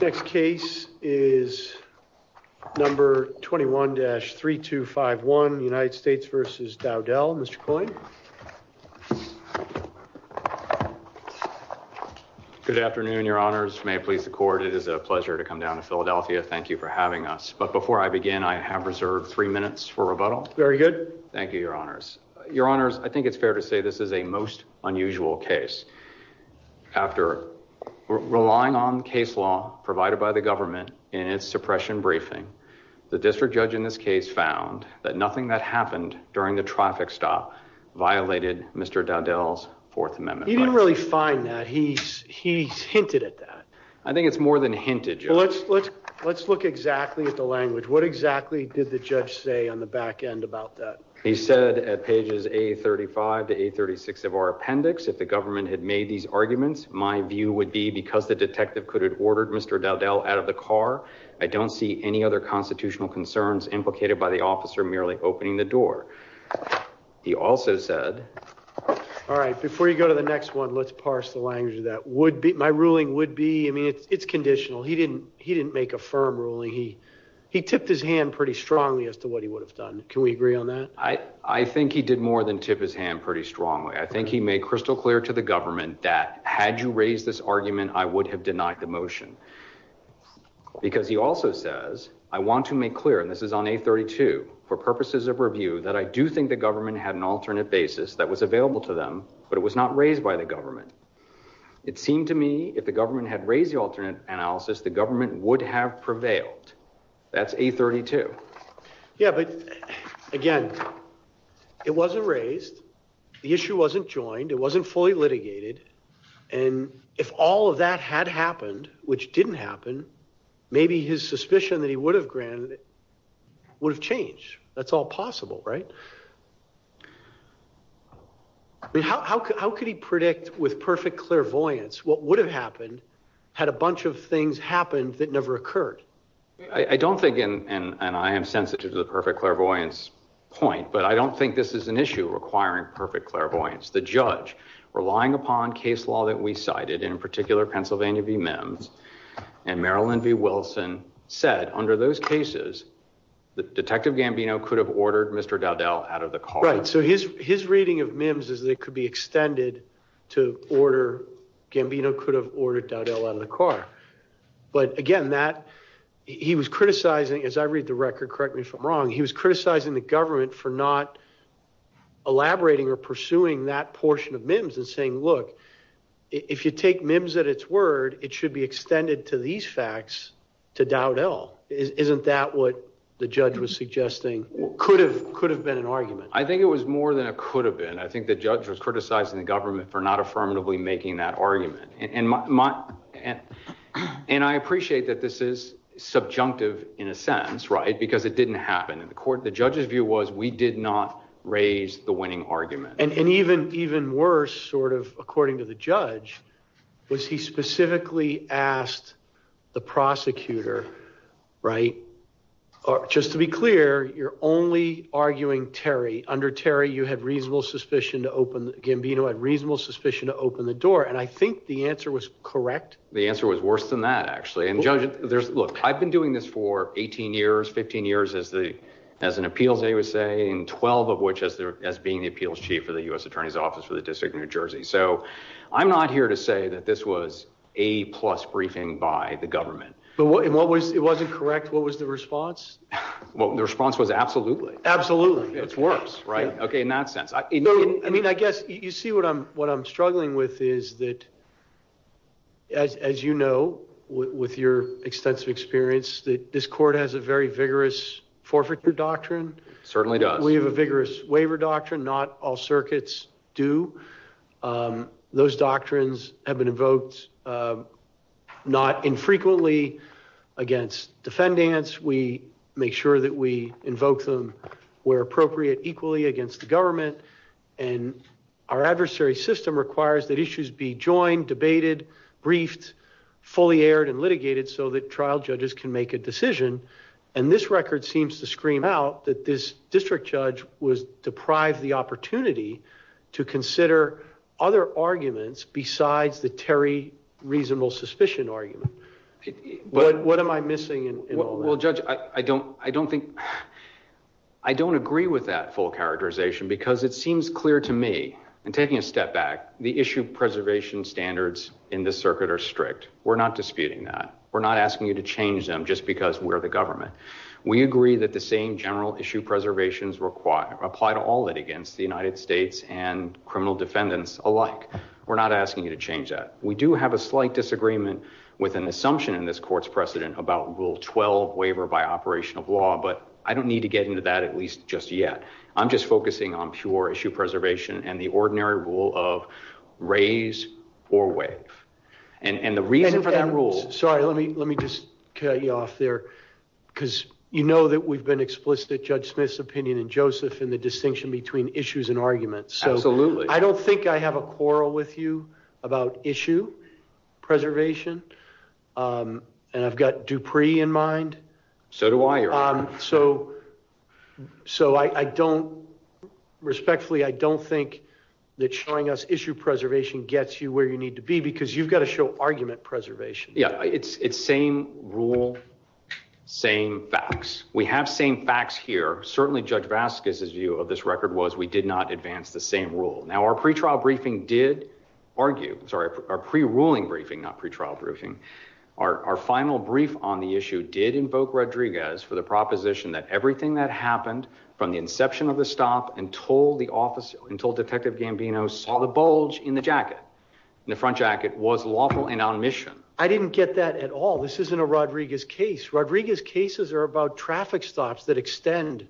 Next case is number 21-3251 United States v. Dowdell. Mr. Coyne. Good afternoon, your honors. May it please the court. It is a pleasure to come down to Philadelphia. Thank you for having us. But before I begin, I have reserved three minutes for rebuttal. Very good. Thank you, your honors. Your honors, I think it's fair to say this is a most unusual case. After relying on case law provided by the government in its suppression briefing, the district judge in this case found that nothing that happened during the traffic stop violated Mr. Dowdell's Fourth Amendment. He didn't really find that. He hinted at that. I think it's more than hinted, your honor. Let's look exactly at the language. What exactly did the judge say on the back end about that? He said at pages A35 to A36 of our appendix, if the government had made these arguments, my view would be because the detective could have ordered Mr. Dowdell out of the car, I don't see any other constitutional concerns implicated by the officer merely opening the door. He also said... All right, before you go to the next one, let's parse the language of that. My ruling would be, I mean, it's conditional. He didn't make a firm ruling. He tipped his hand pretty strongly as to what he would have done. Can we agree on that? I think he did more than tip his hand pretty strongly. I think he made crystal clear to the government that had you raised this argument, I would have denied the motion. Because he also says, I want to make clear, and this is on A32, for purposes of review, that I do think the government had an alternate basis that was available to them, but it was not raised by the government. It seemed to me if the government had raised the alternate analysis, the government would have prevailed. That's A32. Yeah, but again, it wasn't raised. The issue wasn't joined. It wasn't fully litigated. And if all of that had happened, which didn't happen, maybe his suspicion that he would have granted it would have changed. That's all possible, right? I mean, how could he predict with perfect clairvoyance what would have happened had a bunch of things happened that never occurred? I don't think, and I am sensitive to the perfect clairvoyance point, but I don't think this is an issue requiring perfect clairvoyance. The judge, relying upon case law that we cited, in particular Pennsylvania v. Mims, and Marilyn v. Wilson, said under those cases that Detective Gambino could have ordered Mr. Dowdell out of the car. Right, so his reading of Mims is that it could be extended to order, Gambino could have ordered Dowdell out of the car. But again, he was criticizing, as I read the record, correct me if I'm wrong, he was criticizing the government for not elaborating or pursuing that portion of Mims and saying, look, if you take Mims at its word, it should be extended to these facts to Dowdell. Isn't that what the judge was suggesting could have been an argument? I think it was more than it could have been. I think the judge was criticizing the government for not affirmatively making that argument. And I appreciate that this is subjunctive, in a sense, right, because it didn't happen in the court. The judge's view was we did not raise the winning argument. And even worse, sort of according to the judge, was he specifically asked the prosecutor, right, just to be clear, you're only arguing Terry. Under Terry, you had reasonable suspicion to open, Gambino had reasonable suspicion to open the door. And I think the answer was correct. The answer was worse than that, actually. And look, I've been doing this for 18 years, 15 years as an appeals, I would say, and 12 of which as being the appeals chief for the U.S. Attorney's Office for the District of New Jersey. So I'm not here to say that this was a plus briefing by the government. But what was it wasn't correct? What was the response? Well, the response was absolutely. Absolutely. It's worse, right? Okay, in that sense. I mean, I guess you see what I'm struggling with is that, as you know, with your extensive experience, that this court has a very vigorous forfeiture doctrine. Certainly does. We have a vigorous waiver doctrine, not all circuits do. Those doctrines have been invoked not infrequently against defendants. We make sure that we invoke them where appropriate, equally against the government. And our adversary system requires that issues be joined, debated, briefed, fully aired, and litigated so that trial judges can make a decision. And this record seems to scream out that this district judge was deprived the opportunity to consider other arguments besides the Terry reasonable suspicion argument. What am I missing in all that? Well, Judge, I don't agree with that full characterization because it seems clear to me, and taking a step back, the issue preservation standards in this circuit are strict. We're not disputing that. We're not asking you to change them just because we're the government. We agree that the same general issue preservations apply to all that against the United States and criminal defendants alike. We're not asking you to change that. We do have a slight disagreement with an assumption in this court's precedent about rule 12 waiver by operation of law, but I don't need to get into that at least just yet. I'm just focusing on pure issue preservation and the ordinary rule of raise or wave. And the reason for that rule... Sorry, let me just cut you off there because you know that we've been explicit, Judge Smith's opinion and Joseph in the distinction between issues and arguments. Absolutely. I don't think I have a quarrel with you about issue preservation, and I've got Dupree in mind. So do I. So respectfully, I don't think that showing us issue preservation gets you where you need to be because you've got to show argument preservation. Yeah, it's same rule, same facts. We have same facts here. Certainly, Judge Vasquez's view of this record was we did not advance the same rule. Now, our pre-trial briefing did argue... Sorry, our pre-ruling briefing, not pre-trial briefing. Our final brief on the issue did invoke Rodriguez for the proposition that everything that happened from the inception of the stop until Detective Gambino saw the bulge in the jacket, in the front jacket, was lawful and on mission. I didn't get that at all. This isn't a Rodriguez case. Rodriguez cases are about traffic stops that extend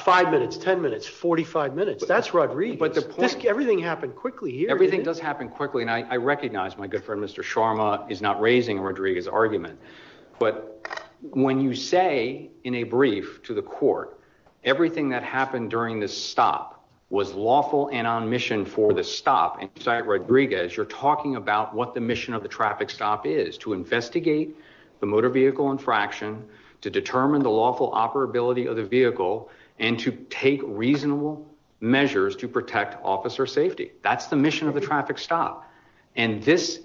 five minutes, 10 minutes, 45 minutes. That's Rodriguez. Everything happened quickly here. Everything does happen quickly, and I recognize my good friend, Mr. Sharma, is not raising a Rodriguez argument. But when you say in a brief to the court, everything that happened during this stop was lawful and on mission for the stop inside Rodriguez, you're talking about what the mission of the traffic stop is, to investigate the motor vehicle infraction, to determine the lawful operability of the vehicle, and to take reasonable measures to protect officer safety. That's the mission of the traffic stop. And this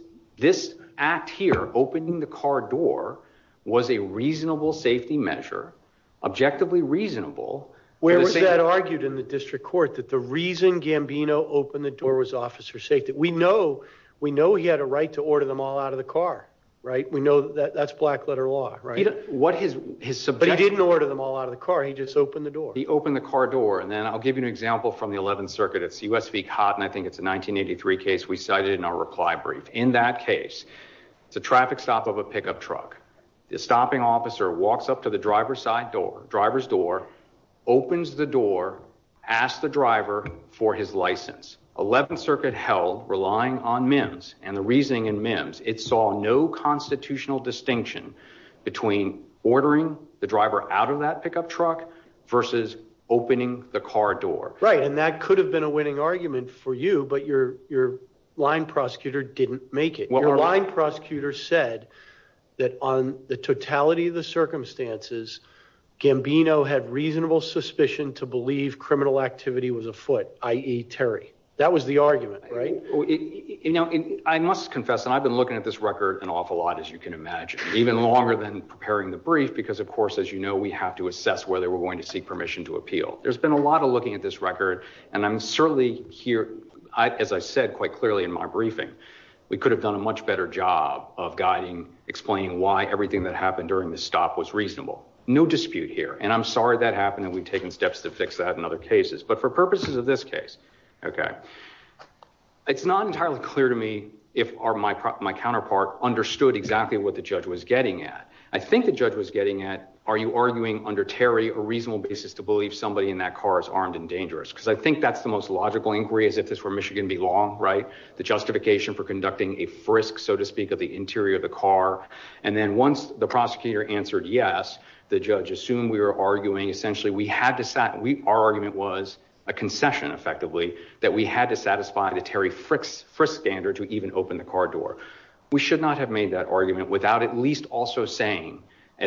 act here, opening the car door, was a reasonable safety measure, objectively reasonable. Where was that argued in the district court, that the reason Gambino opened the door was officer safety? We know he had a right to order them all out of the car, right? We know that's black letter law, right? But he didn't order them all out of the car. He just opened the door. He opened the car door. And then I'll give you an example from the 11th Circuit. It's U.S. v. Cotton. I think it's a 1983 case. We cited it in our reply brief. In that case, it's a traffic stop of a pickup truck. The stopping officer walks up to the driver's side door, driver's door, opens the door, asks the driver for his license. 11th Circuit held, relying on MIMS and the reasoning in MIMS, it saw no constitutional distinction between ordering the driver out of that pickup truck versus opening the car door. Right, and that could have been a winning argument for you, but your line prosecutor didn't make it. Your line prosecutor said that on the totality of the circumstances, Gambino had reasonable suspicion to believe criminal activity was afoot, i.e. Terry. That was the argument, right? You know, I must confess, and I've been looking at this record an awful lot, as you can imagine, even longer than preparing the brief, because of course, as you know, we have to assess whether we're going to seek permission to appeal. There's been a lot of looking at this record, and I'm certainly here, as I said quite clearly in my briefing, we could have done a much better job of guiding, explaining why everything that happened during the stop was reasonable. No dispute here, and I'm sorry that happened, and we've taken steps to fix that in other cases, but for purposes of this case, okay, it's not entirely clear to me if my counterpart understood exactly what the judge was getting at. I think the judge was getting at, are you arguing under Terry a reasonable basis to believe somebody in that car is armed and dangerous, because I think that's the most logical inquiry, as if this were Michigan v. Long, right? The justification for interior of the car, and then once the prosecutor answered yes, the judge assumed we were arguing, essentially, our argument was a concession, effectively, that we had to satisfy the Terry Frist standard to even open the car door. We should not have made that argument without at least also saying,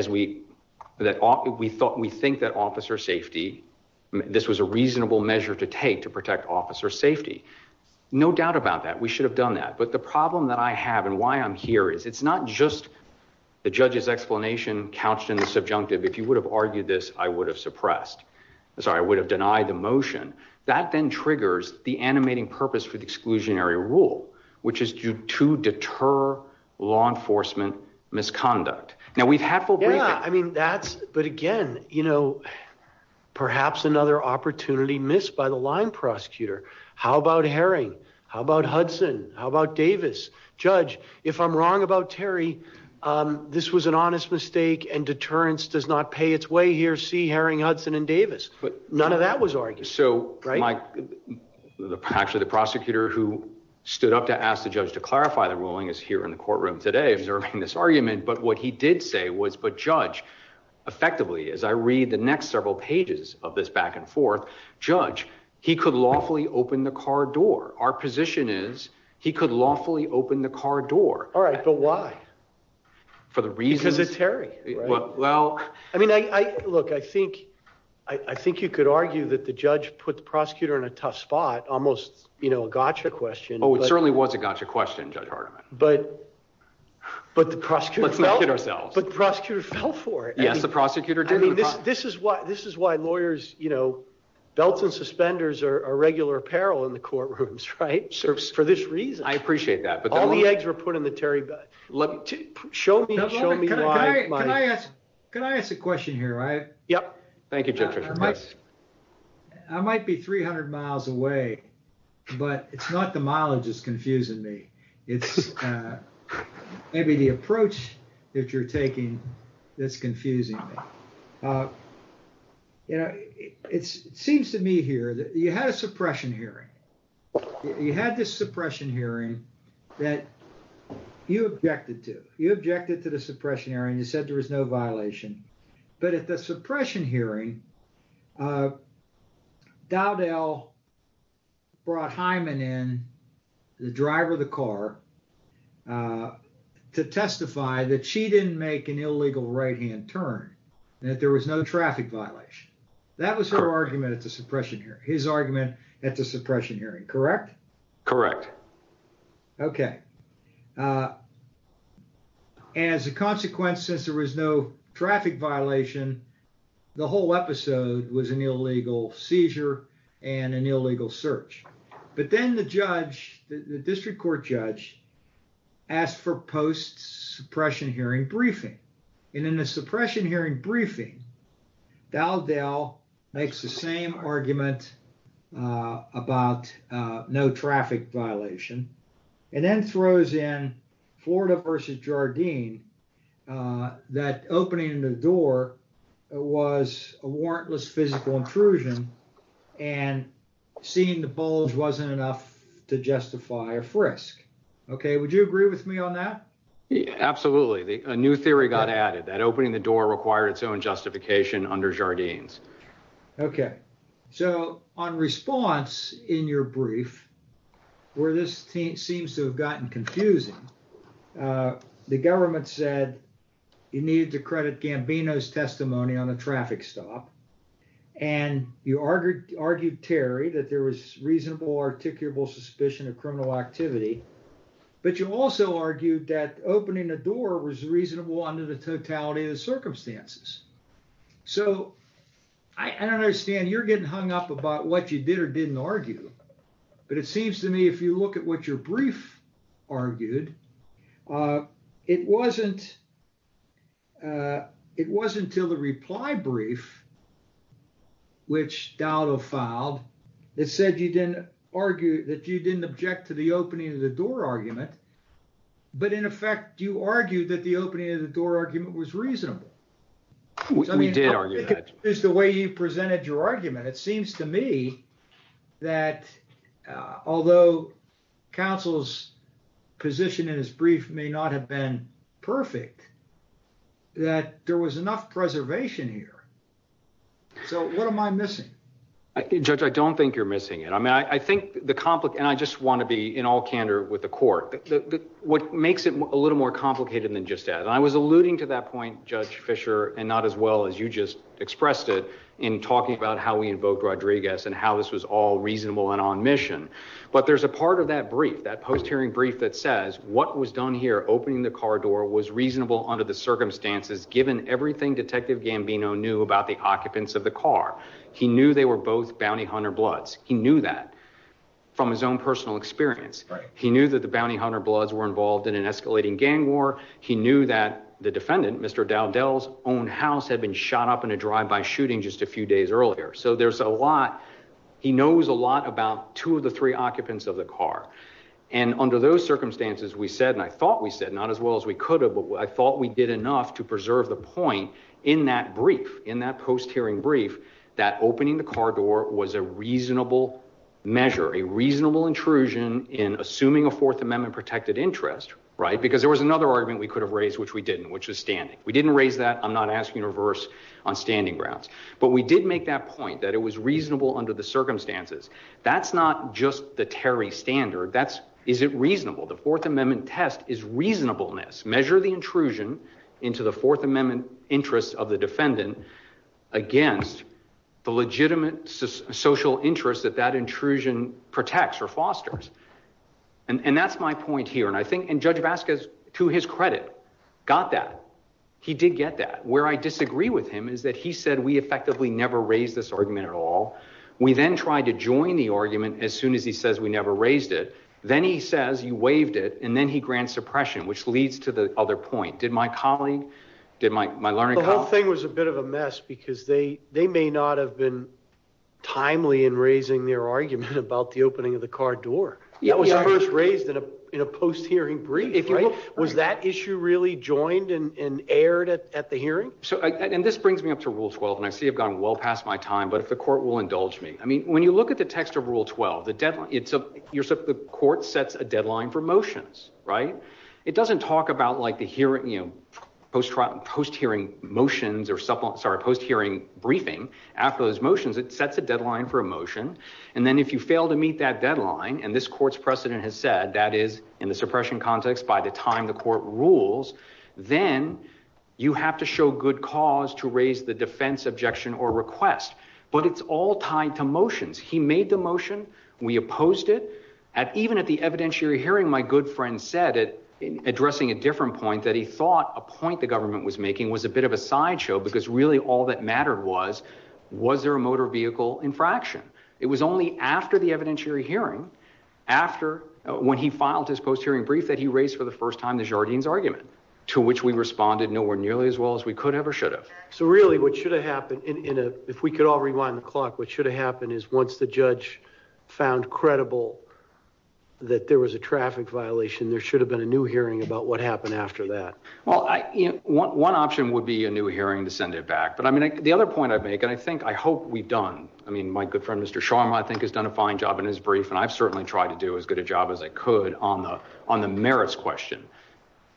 we think that officer safety, this was a reasonable measure to take to protect officer safety. No doubt about that, we should have done that, but the problem that I have, and why I'm here, is it's not just the judge's explanation couched in the subjunctive, if you would have argued this, I would have suppressed, I'm sorry, I would have denied the motion. That then triggers the animating purpose for the exclusionary rule, which is to deter law enforcement misconduct. Now, we've had full- Yeah, I mean, that's, but again, you know, perhaps another opportunity missed by the line prosecutor. How about Herring? How about Hudson? How about Davis? Judge, if I'm wrong about Terry, this was an honest mistake and deterrence does not pay its way here. See Herring, Hudson, and Davis, but none of that was argued. So, actually, the prosecutor who stood up to ask the judge to clarify the ruling is here in the courtroom today, observing this argument, but what he did say was, but judge, effectively, as I read the next several pages of this back and forth, judge, he could lawfully open the car door. Our position is he could lawfully open the car door. All right, but why? For the reasons- Because it's Terry, right? Well, I mean, I, look, I think, I think you could argue that the judge put the prosecutor in a tough spot, almost, you know, a gotcha question. Oh, it certainly was a gotcha question, Judge Hardiman. But, but the prosecutor- Let's not kid ourselves. But the prosecutor fell for it. Yes, the prosecutor did. I mean, this, this is why, this is why lawyers, you know, belts and suspenders are a regular apparel in the courtrooms, right? For this reason. I appreciate that, but- All the eggs were put in the Terry- Show me, show me why- Can I, can I ask, can I ask a question here? I- Yep. Thank you, Judge Richard. I might, I might be 300 miles away, but it's not the mileage that's confusing me. It's maybe the approach that you're taking that's confusing me. You know, it seems to me here that you had a suppression hearing. You had this suppression hearing that you objected to. You objected to the suppression hearing. You said there was no violation. But at the suppression hearing, Dowdell brought Hyman in, the driver of the car, uh, to testify that she didn't make an illegal right-hand turn and that there was no traffic violation. That was her argument at the suppression hearing, his argument at the suppression hearing, correct? Correct. Okay. Uh, as a consequence, since there was no traffic violation, the whole episode was an illegal seizure and an illegal search. But then the judge, the district court judge asked for post-suppression hearing briefing. And in the suppression hearing briefing, Dowdell makes the same argument, uh, about, uh, no traffic violation and then throws in Florida versus Jardine, uh, that opening the door was a warrantless physical intrusion and seeing the bulge wasn't enough to justify a frisk. Okay. Would you agree with me on that? Absolutely. A new theory got added that opening the door required its own justification under Jardines. Okay. So on response in your brief where this team seems to have gotten confusing, uh, the government said you needed to credit Gambino's testimony on the traffic stop. And you argued, argued Terry, that there was reasonable articulable suspicion of criminal activity, but you also argued that opening the door was reasonable under the totality of the circumstances. So I don't understand you're getting hung up about what you did or didn't argue, but it seems to me, if you look at what your brief argued, uh, it wasn't, uh, it wasn't until the reply brief, which Dowdell filed, it said you didn't argue that you didn't object to the opening of the door argument, but in effect, you argued that the opening of the door argument was reasonable. We did argue that. I mean, just the way you presented your argument, it seems to me that, uh, although counsel's position in his brief may not have been perfect, that there was enough preservation here. So what am I missing? I think judge, I don't think you're missing it. I mean, I think the complicate, and I just want to be in all candor with the court, what makes it a little more complicated than just that. And I was alluding to that point, judge Fisher, and not as well as you just expressed it in talking about how we invoked Rodriguez and how this was all reasonable and on mission. But there's a part of that brief, that post-hearing brief that says what was done here, opening the car door was reasonable under the circumstances, given everything detective Gambino knew about the occupants of the car. He knew they were both bounty hunter bloods. He knew that from his own personal experience. He knew that the bounty hunter bloods were involved in an escalating gang war. He knew that the defendant, Mr. Dowdell's own house had been shot up in a drive by shooting just a few days earlier. So there's a lot, he knows a lot about two of the three occupants of the car. And under those circumstances, we said, and I thought we said, not as well as we could have, but I thought we did enough to preserve the point in that brief, in that post-hearing brief, that opening the car door was a reasonable measure, a reasonable intrusion in assuming a fourth amendment protected interest, right? Because there was another argument we could have raised, which we didn't, which is standing. We didn't raise that. I'm not asking reverse on standing grounds, but we did make that point that it was reasonable under the circumstances. That's not just the Terry standard. That's, is it reasonable? The fourth amendment test is reasonableness. Measure the intrusion into the fourth amendment interest of the defendant against the legitimate social interest that that intrusion protects or fosters. And that's my point here. And I think, and Judge Vasquez, to his credit, got that. He did get that. Where I disagree with him is that he said, we effectively never raised this argument at all. We then tried to join the argument as soon as he says, we never raised it. Then he says, you waived it. And then he grants suppression, which leads to the other point. Did my colleague, did my, my learning? The whole thing was a bit of a mess because they, they may not have been timely in raising their argument about the opening of the car door. That was first raised in a, in a post-hearing brief, right? Was that issue really joined and aired at the hearing? So, the court will indulge me. I mean, when you look at the text of rule 12, the deadline, it's a, you're, so the court sets a deadline for motions, right? It doesn't talk about like the hearing, you know, post-trial post-hearing motions or supplement, sorry, post-hearing briefing after those motions, it sets a deadline for a motion. And then if you fail to meet that deadline and this court's precedent has said that is in the suppression context, by the time the court rules, then you have to show good cause to raise the defense objection or request, but it's all tied to motions. He made the motion. We opposed it at, even at the evidentiary hearing, my good friend said it in addressing a different point that he thought a point the government was making was a bit of a sideshow because really all that mattered was, was there a motor vehicle infraction? It was only after the evidentiary hearing, after when he filed his post-hearing brief that he raised for the first time, the Jardines argument to which we responded nowhere nearly as well as we could ever should have. So really what should have happened in a, if we could all rewind the clock, what should have happened is once the judge found credible that there was a traffic violation, there should have been a new hearing about what happened after that. Well, I, you know, one option would be a new hearing to send it back. But I mean, the other point I'd make, and I think, I hope we've done, I mean, my good friend, Mr. Sharma, I think has done a fine job in his brief. And I've certainly tried to do as good a job as I could on the merits question.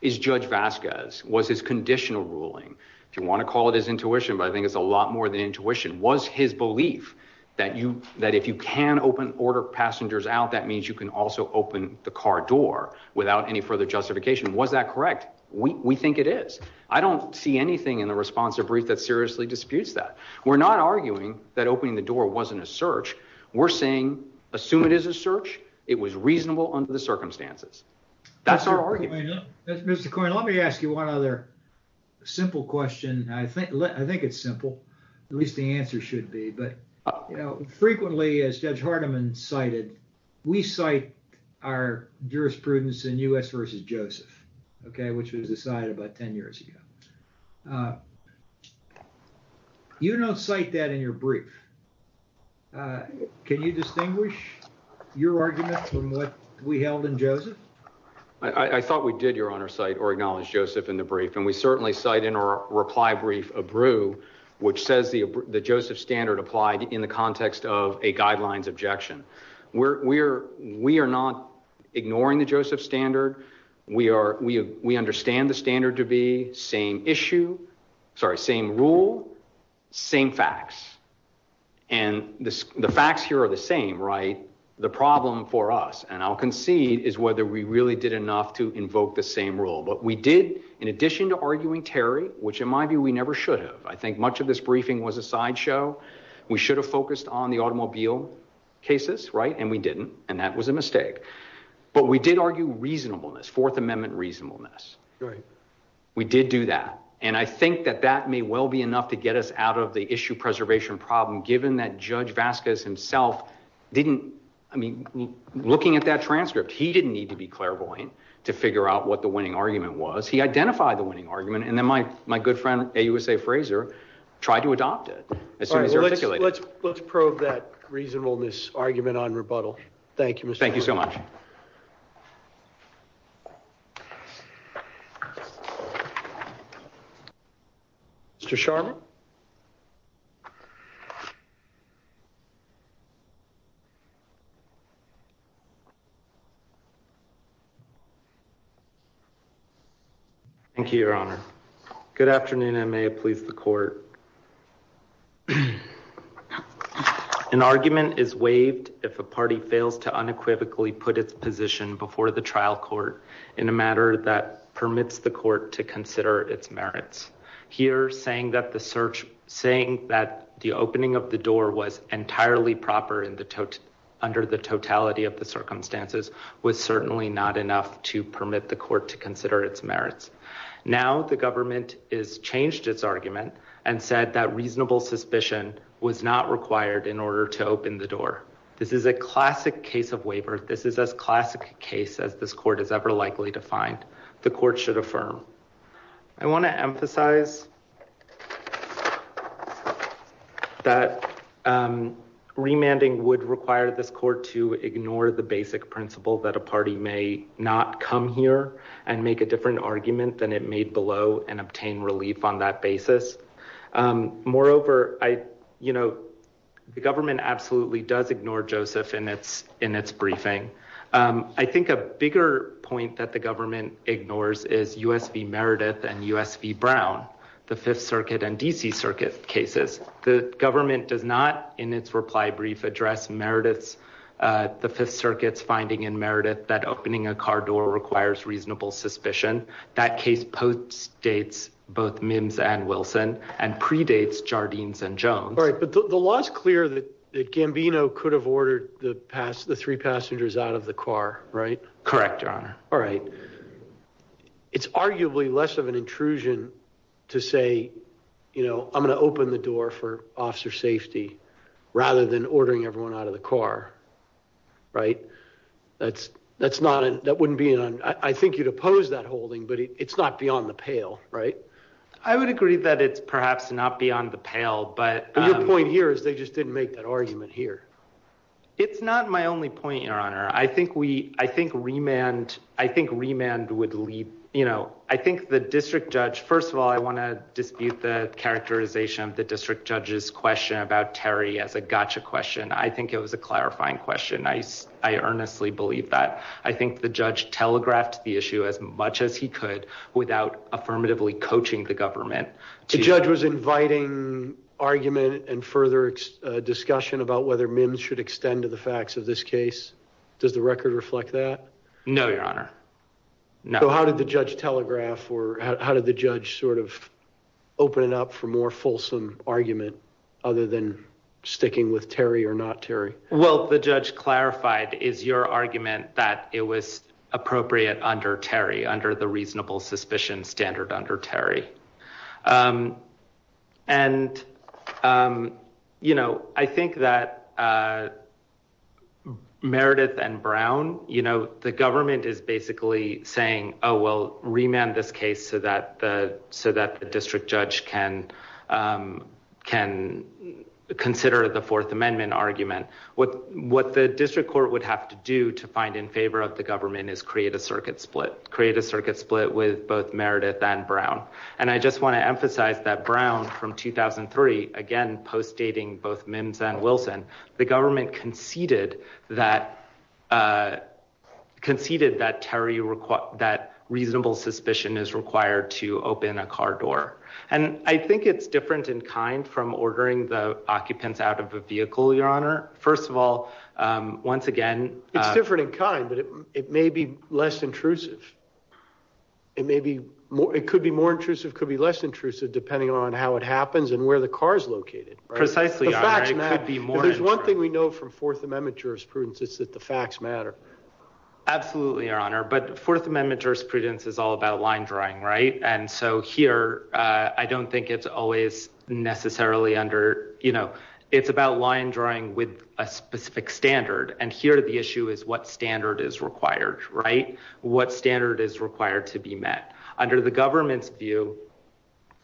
Is Judge Vasquez, was his conditional ruling, if you want to call it his intuition, but I think it's a lot more than intuition, was his belief that you, that if you can open order passengers out, that means you can also open the car door without any further justification. Was that correct? We think it is. I don't see anything in the response to a brief that seriously disputes that. We're not arguing that opening the door wasn't a search. We're saying, assume it is a search. It was reasonable under the circumstances. That's our argument. Mr. Coyne, let me ask you one other simple question. I think, I think it's simple. At least the answer should be, but, you know, frequently as Judge Hardiman cited, we cite our jurisprudence in U.S. versus Joseph, okay, which was decided about 10 years ago. Uh, you don't cite that in your brief. Uh, can you distinguish your argument from what we held in Joseph? I, I thought we did, Your Honor, cite or acknowledge Joseph in the brief, and we certainly cite in our reply brief a brew, which says the, the Joseph standard applied in the context of a guidelines objection. We're, we're, we are not ignoring the Joseph standard. We are, we, we understand the standard to be same issue, sorry, same rule, same facts. And this, the facts here are the same, right? The problem for us, and I'll concede, is whether we really did enough to invoke the same rule. But we did, in addition to arguing Terry, which in my view, we never should have. I think much of this briefing was a sideshow. We should have focused on the automobile cases, right? And we didn't, and that was a mistake. But we did argue reasonableness, Fourth Amendment reasonableness, right? We did do that. And I think that that may well be enough to get us out of the issue preservation problem, given that Judge Vasquez himself didn't, I mean, looking at that transcript, he didn't need to be clairvoyant to figure out what the winning argument was. He identified the winning argument. And then my, my good friend, AUSA Frazer tried to adopt it. Let's, let's, let's prove that reasonableness argument on rebuttal. Thank you, Mr. Chairman. Thank you so much, Mr. Sharma. Thank you, Your Honor. Good afternoon. I may have pleased the court. An argument is waived if a party fails to unequivocally put its position before the trial court in a matter that permits the court to consider its merits. Here saying that the search, saying that the opening of the door was entirely proper in the tot, under the totality of the circumstances was certainly not enough to permit the court to consider its merits. Now the government is changed its argument and said that reasonable suspicion was not required in order to open the door. This is a classic case of waiver. This is as classic case as this court is ever likely to find. The court should affirm. I want to emphasize that remanding would require this court to ignore the basic principle that a party may not come here and make a different argument than it made below and obtain relief on that basis. Moreover, I, you know, the government absolutely does ignore Joseph in its, in its briefing. I think a bigger point that the government ignores is U.S. v. Meredith and U.S. v. Brown, the Fifth Circuit and D.C. Circuit cases. The government does not, in its reply brief, address Meredith's, the Fifth Circuit's finding in Meredith that opening a car door requires reasonable suspicion. That case post-dates both Mims and Wilson and predates Jardines and Jones. All right, but the law is clear that Gambino could have ordered the past, the three passengers out of the car, right? Correct, your honor. All right. It's arguably less of an intrusion to say, you know, I'm going to open the door for the car, right? That's, that's not an, that wouldn't be an, I think you'd oppose that holding, but it's not beyond the pale, right? I would agree that it's perhaps not beyond the pale, but- Your point here is they just didn't make that argument here. It's not my only point, your honor. I think we, I think remand, I think remand would lead, you know, I think the district judge, first of all, I want to dispute the characterization of district judge's question about Terry as a gotcha question. I think it was a clarifying question. I, I earnestly believe that. I think the judge telegraphed the issue as much as he could without affirmatively coaching the government. The judge was inviting argument and further discussion about whether Mims should extend to the facts of this case. Does the record reflect that? No, your honor. No. So how did the judge telegraph or how did the judge sort of open it up for more fulsome argument other than sticking with Terry or not Terry? Well, the judge clarified is your argument that it was appropriate under Terry, under the reasonable suspicion standard under Terry. And, you know, I think that Meredith and Brown, you know, the government is basically saying, oh, well, remand this case so that the, so that the district judge can, can consider the fourth amendment argument. What, what the district court would have to do to find in favor of the government is create a circuit split, create a circuit split with both Meredith and Brown. And I just want to emphasize that Brown from 2003, again, postdating both Mims and Wilson, the government conceded that, conceded that Terry, that reasonable suspicion is required to open a car door. And I think it's different in kind from ordering the occupants out of a vehicle, your honor. First of all, once again. It's different in kind, but it may be less intrusive. It may be more, it could be more intrusive, could be less intrusive depending on how it happens and where the car's located. Precisely. There's one thing we know from fourth amendment jurisprudence is that the facts matter. Absolutely, your honor, but fourth amendment jurisprudence is all about line drawing, right? And so here I don't think it's always necessarily under, you know, it's about line drawing with a specific standard. And here the issue is what standard is required, right? What standard is required to be met under the government's view?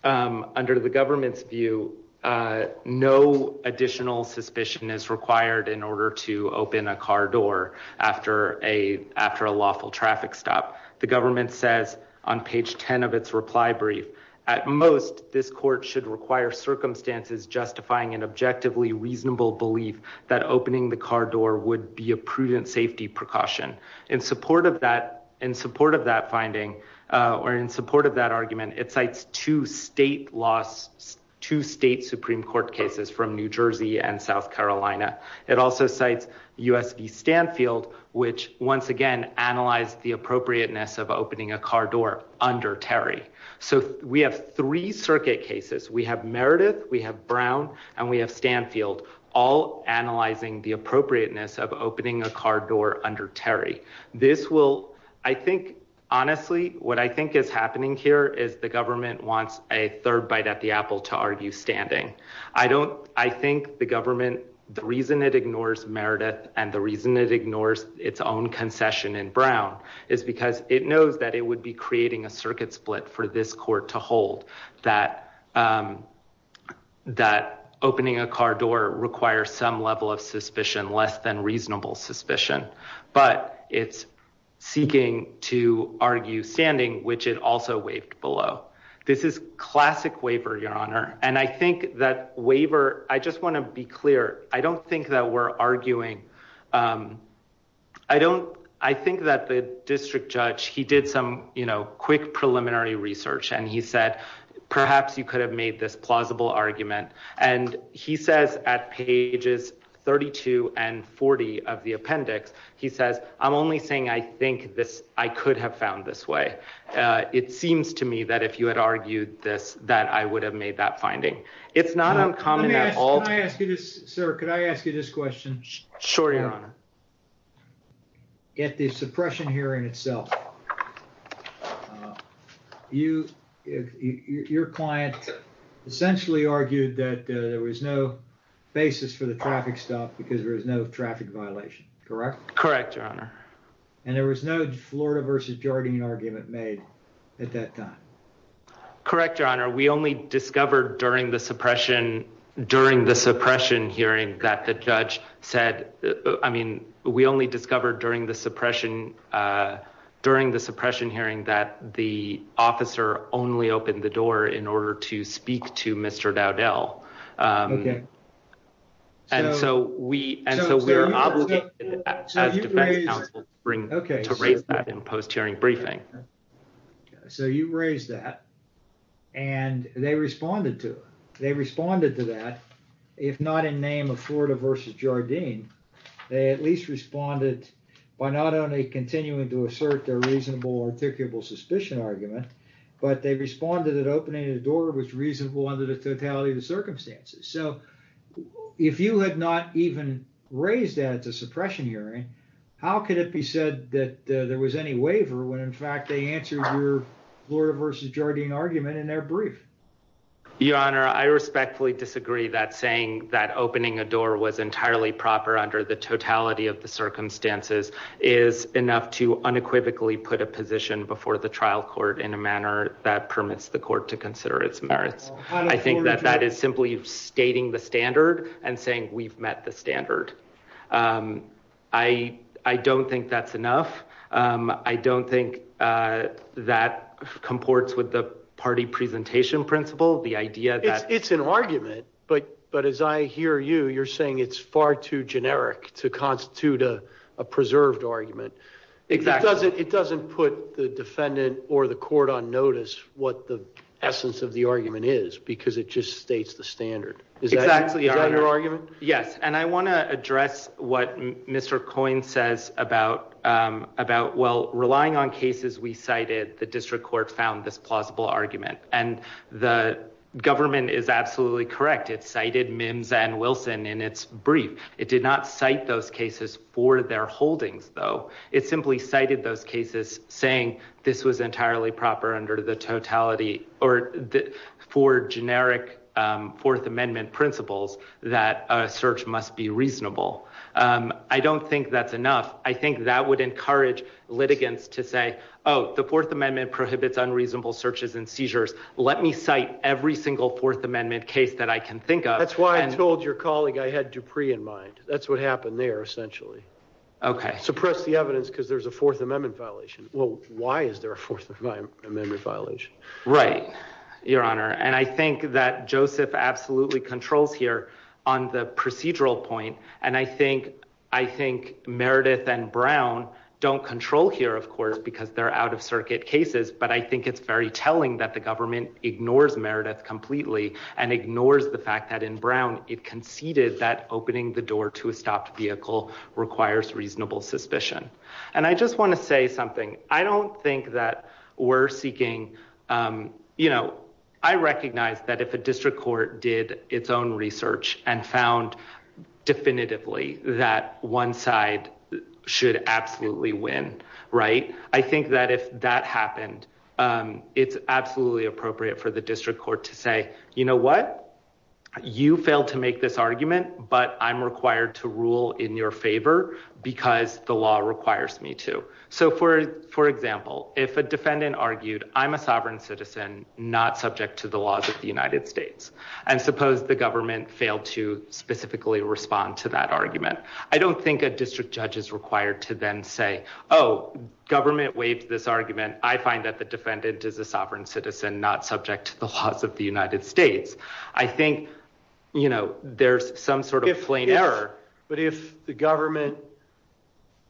Um, under the government's view, uh, no additional suspicion is required in order to open a car door after a, after a lawful traffic stop, the government says on page 10 of its reply brief at most, this court should require circumstances justifying an objectively reasonable belief that opening the car door would be a prudent safety precaution in support of that, in support of that finding, uh, or in support of that argument, it cites two state laws, two state Supreme court cases from New Jersey and South Carolina. It also cites USB Stanfield, which once again, analyze the appropriateness of opening a car door under Terry. So we have three circuit cases. We have Meredith, we have Brown and we have Stanfield all analyzing the appropriateness of opening a car door under Terry. This will, I think, honestly, what I think is happening here is the government wants a third bite at the apple to argue standing. I don't, I think the government, the reason it ignores Meredith and the reason it ignores its own concession in Brown is because it knows that it would be creating a circuit split for this court to hold that, um, that opening a car door requires some level of suspicion, less than reasonable suspicion, but it's seeking to argue standing, which it also waived below. This is classic waiver, your honor. And I think that waiver, I just want to be clear. I don't think that we're arguing. Um, I don't, I think that the district judge, he did some, you know, quick preliminary research and he said, perhaps you could have made this plausible argument. And he says at pages 32 and 40 of the appendix, he says, I'm only saying, I think this, I could have found this way. It seems to me that if you had argued this, that I would have made that finding. It's not uncommon at all. Can I ask you this, sir? Could I ask you this question? Sure. Your honor. At the suppression hearing itself, you, your client essentially argued that there was no basis for the traffic stop because there was no traffic violation. Correct? Correct. Your honor. And there was no Florida versus Jordan argument made at that time. Correct. Your honor. We only discovered during the suppression, during the suppression hearing that the judge said, I mean, we only discovered during the suppression, uh, during the suppression hearing that the officer only opened the door in order to speak to Mr. Dowdell. Um, and so we, and so we are obligated to raise that in post hearing briefing. So you raised that and they responded to it. They responded to that. If not in name of Florida versus Jardine, they at least responded by not only continuing to assert their reasonable articulable suspicion argument, but they responded that opening the door was reasonable under the totality of the circumstances. So if you had not even raised that at the suppression hearing, how could it be said that there was any waiver when in fact they answered your Florida versus Jordan argument in their brief? Your honor, I respectfully disagree that saying that opening a door was entirely proper under the totality of the circumstances is enough to unequivocally put a position before the trial court in a manner that permits the court to consider its merits. I think that that is simply stating the standard and saying we've met the standard. Um, I, I don't think that's enough. Um, I don't think, uh, that comports with the party presentation principle, the idea that it's an argument, but, but as I hear you, you're saying it's far too generic to constitute a, a preserved argument. It doesn't, it doesn't put the defendant or the court on notice what the essence of the argument is because it just states the standard. Is that your argument? Yes. And I want to address what Mr. Coyne says about, um, about, well, relying on cases we cited, the district court found this plausible argument and the government is absolutely correct. It's cited Mims and Wilson in its brief. It did not cite those cases for their holdings though. It simply cited those cases saying this was entirely proper under the totality or for generic, um, fourth amendment principles that a search must be reasonable. Um, I don't think that's enough. I think that would encourage litigants to say, oh, the fourth amendment prohibits unreasonable searches and seizures. Let me cite every single fourth amendment case that I can think of. That's why I told your colleague I had Dupree in mind. That's what happened there essentially. Okay. Suppress the evidence because there's a fourth amendment violation. Well, why is there a fourth amendment violation? Right. Your honor. And I think that Joseph absolutely controls here on the procedural point. And I think, I think Meredith and Brown don't control here of course, because they're out of circuit cases. But I think it's very telling that the government ignores Meredith completely and ignores the fact that in Brown, it conceded that opening the door to a stopped vehicle requires reasonable suspicion. And I just want to say something. I don't think that we're seeking, um, you know, I recognize that if a district court did its own research and found definitively that one side should absolutely win. Right. I think that if that happened, um, it's absolutely appropriate for the district court to say, you know what? You failed to make this argument, but I'm required to rule in your favor because the law requires me to. So for, for example, if a defendant argued, I'm a sovereign citizen, not subject to the laws of the United States. And suppose the government failed to specifically respond to that argument. I don't think a district judge is required to then say, oh, government waived this argument. I find that the defendant is a sovereign citizen, not subject to the laws of the United States. I think, you know, there's some sort of plain error, but if the government,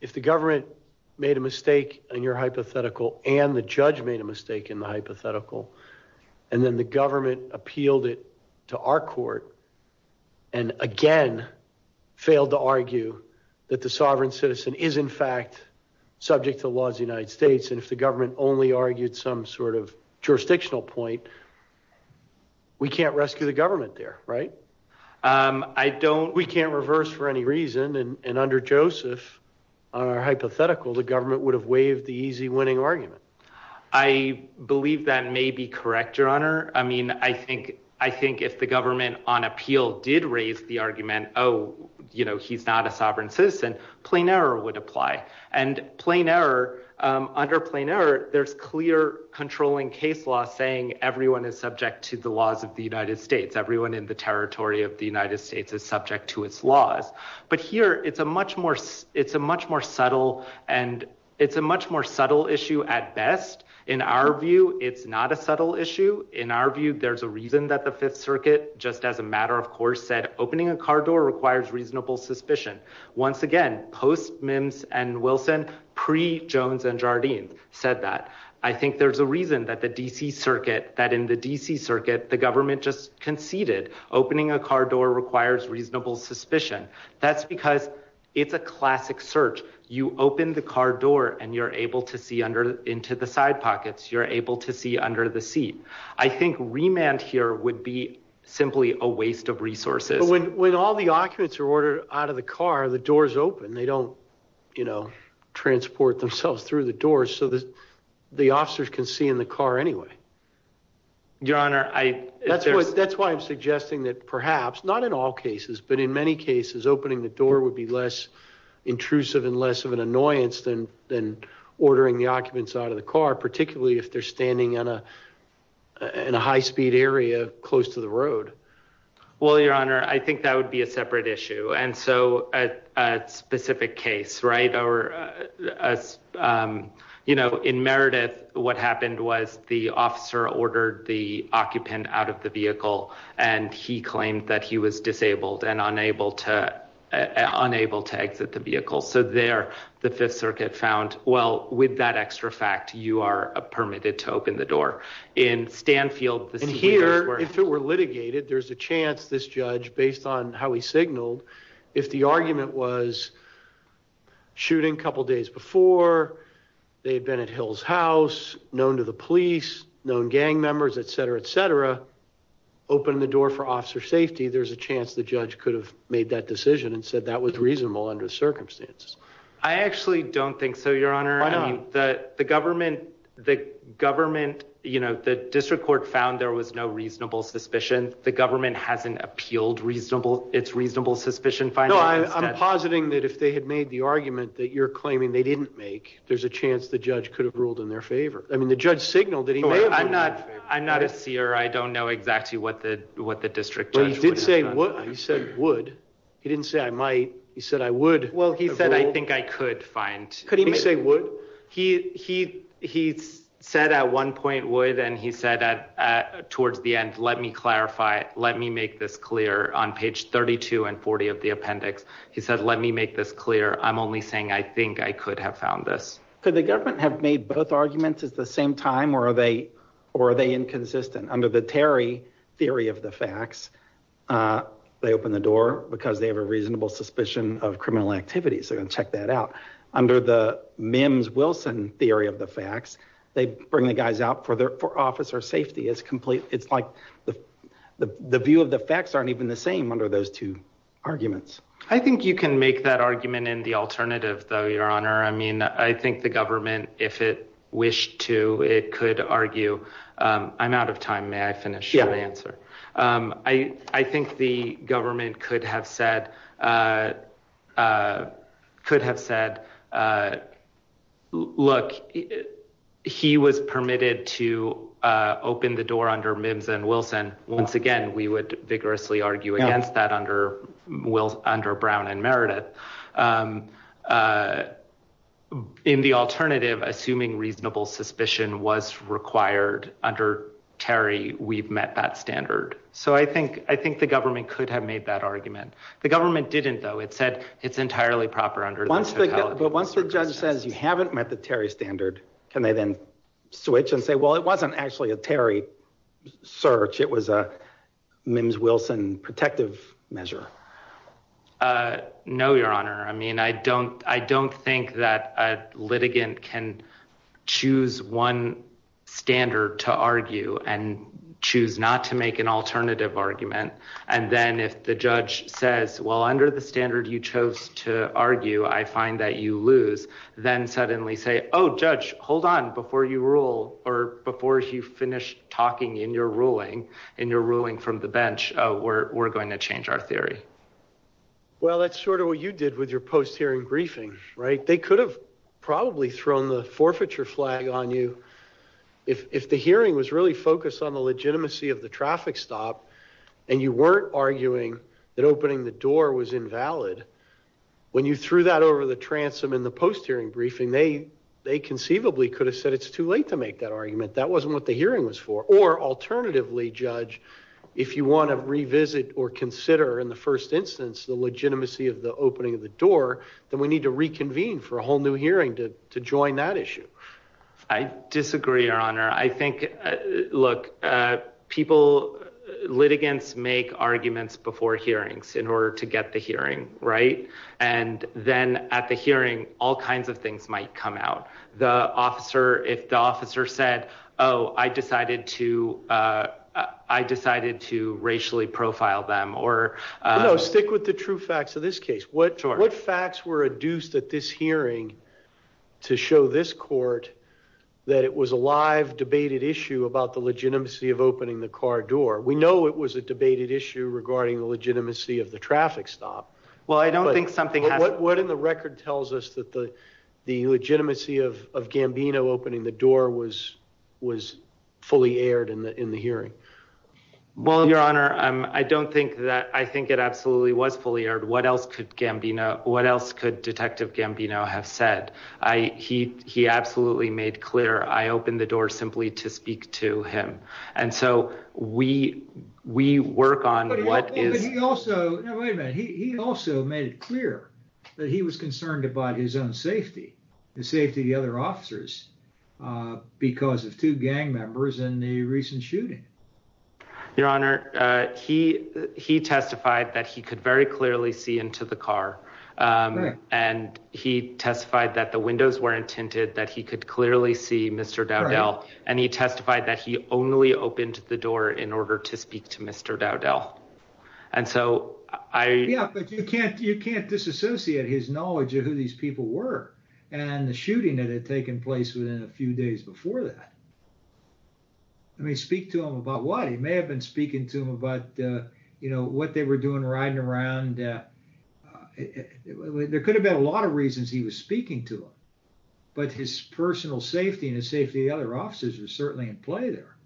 if the government made a mistake and your hypothetical and the judge made a mistake in the hypothetical, and then the government appealed it to our court and again, failed to argue that the sovereign citizen is in fact subject to the laws of the United States. And if the government only argued some sort of jurisdictional point, we can't rescue the government there. Right. Um, I don't, we can't reverse for any reason. And under Joseph, our hypothetical, the government would have waived the easy winning argument. I believe that may be correct, your honor. I mean, I think, I think if the government on appeal did raise the argument, oh, you know, he's not a sovereign citizen, plain error would apply. And plain error, um, under plain error, there's clear controlling case law saying everyone is subject to the laws of the United States. Everyone in the territory of the United States is subject to its laws, but here it's a much more, it's a much more subtle and it's a much more subtle issue at best. In our view, it's not a subtle issue. In our view, there's a reason that the fifth circuit, just as a matter of course, said opening a car door requires reasonable suspicion. Once again, post Mims and Wilson pre Jones and Jardine said that. I think there's a reason that the DC circuit, that in the DC circuit, the government just conceded opening a car door requires reasonable suspicion. That's because it's a classic search. You open the car door and you're able to see under into the side pockets. You're able to see under the seat. I think remand here would be simply a waste of resources. When all the occupants are ordered out of the car, the doors open. They don't, you know, transport themselves through the doors so that the officers can see in the car anyway. Your Honor, I, that's why I'm suggesting that perhaps not in all cases, but in many cases, opening the door would be less intrusive and less of an annoyance than, than ordering the occupants out of the car, particularly if they're standing on a, in a high speed area close to the road. Well, your Honor, I think that would be a separate issue. And so at a specific case, right. Or as you know, in Meredith, what happened was the officer ordered the occupant out of the vehicle and he claimed that he was disabled and unable to, unable to exit the vehicle. So there the fifth circuit found, well, with that extra fact, you are permitted to open the door in Stanfield. And here, if it were litigated, there's a chance this judge, based on how he signaled, if the argument was shooting a couple of days before they had been at Hill's house, known to the police, known gang members, et cetera, et cetera, open the door for officer safety. There's a chance the judge could have made that decision and said that was reasonable under the circumstances. I actually don't think so, your Honor, that the government, the government, you know, the district court found there was no reasonable suspicion. The government hasn't appealed reasonable, it's reasonable suspicion. No, I'm positing that if they had made the argument that you're claiming they didn't make, there's a chance the judge could have ruled in their favor. I mean, the judge signaled that he may have. I'm not, I'm not a seer. I don't know exactly what the, what the district judge would have done. He said would, he didn't say I might. He said, I would. Well, he said, I think I could find. Could he say would? He, he, he said at one page 32 and 40 of the appendix, he said, let me make this clear. I'm only saying, I think I could have found this. Could the government have made both arguments at the same time or are they, or are they inconsistent under the Terry theory of the facts? Uh, they opened the door because they have a reasonable suspicion of criminal activities. They're going to check that out under the Mims Wilson theory of the facts. They bring the guys out for their, for officer safety is complete. It's like the, the, the view of the facts aren't even the same under those two arguments. I think you can make that argument in the alternative though, your honor. I mean, I think the government, if it wished to, it could argue, I'm out of time. May I finish my answer? Um, I, I think the government could have said, uh, uh, could have said, uh, look, he was permitted to, uh, open the door under Mims and Wilson. Once again, we would vigorously argue against that under will under Brown and Meredith. Um, uh, in the alternative, assuming reasonable suspicion was required under Terry, we've met that standard. So I think, I think the government could have made that argument. The government didn't though. It said it's entirely proper under, but once the judge says you haven't met the Terry standard, can they then switch and say, well, it wasn't actually a Terry search. It was a Mims Wilson protective measure. Uh, no, your honor. I mean, I don't, I don't think that a litigant can choose one standard to argue and choose not to make an alternative argument. And then if the judge says, well, under the standard you chose to argue, I find that you lose then suddenly say, oh, judge, hold on before you rule or before you finish talking in your ruling and you're ruling from the bench, uh, we're, we're going to change our theory. Well, that's sort of what you did with your post hearing briefing, right? They could have probably thrown the forfeiture flag on you. If, if the hearing was really focused on the legitimacy of the traffic stop and you weren't arguing that opening the door was invalid, when you threw that over the transom in the post hearing briefing, they, they conceivably could have said it's too late to make that argument. That wasn't what the hearing was for. Or alternatively judge, if you want to revisit or consider in the first instance, the legitimacy of the opening of the door, then we need to reconvene for a whole new hearing to, to join that issue. I disagree, your honor. I think, uh, look, uh, people litigants make arguments before hearings in order to get the hearing right. And then at the hearing, all kinds of things might come out. The officer, if the officer said, oh, I decided to, uh, uh, I decided to racially profile them or, uh, stick with the true facts of this case. What, what facts were adduced at this hearing to show this court that it was a live debated issue about the legitimacy of opening the car door? We know it was a debated issue regarding the legitimacy of the traffic stop. Well, I don't think something, what, what in the record tells us that the, the legitimacy of, of Gambino opening the door was, was fully aired in the, in the hearing? Well, your honor, um, I don't think that I think it absolutely was fully aired. What else could Gambino, what else could detective Gambino have said? I, he, he absolutely made clear. I opened the door simply to speak to him. And so we, we work on what is also, he also made it clear that he was concerned about his own safety, the safety of the other officers, uh, because of two gang members in the recent shooting. Your honor, uh, he, he testified that he could very clearly see into the car. Um, and he testified that the windows weren't tinted, that he could clearly see Mr. Dowdell. And he testified that he only opened the door in order to speak to Mr. Dowdell. And so I, yeah, but you can't, you can't disassociate his knowledge of who these people were and the shooting that had taken place within a few days before that. I mean, speak to him about what he may have been speaking to him about, uh, you know, what they were doing, riding around. Uh, uh, there could have been a lot of reasons he was speaking to him, but his personal safety and his safety, the other officers are certainly in play there.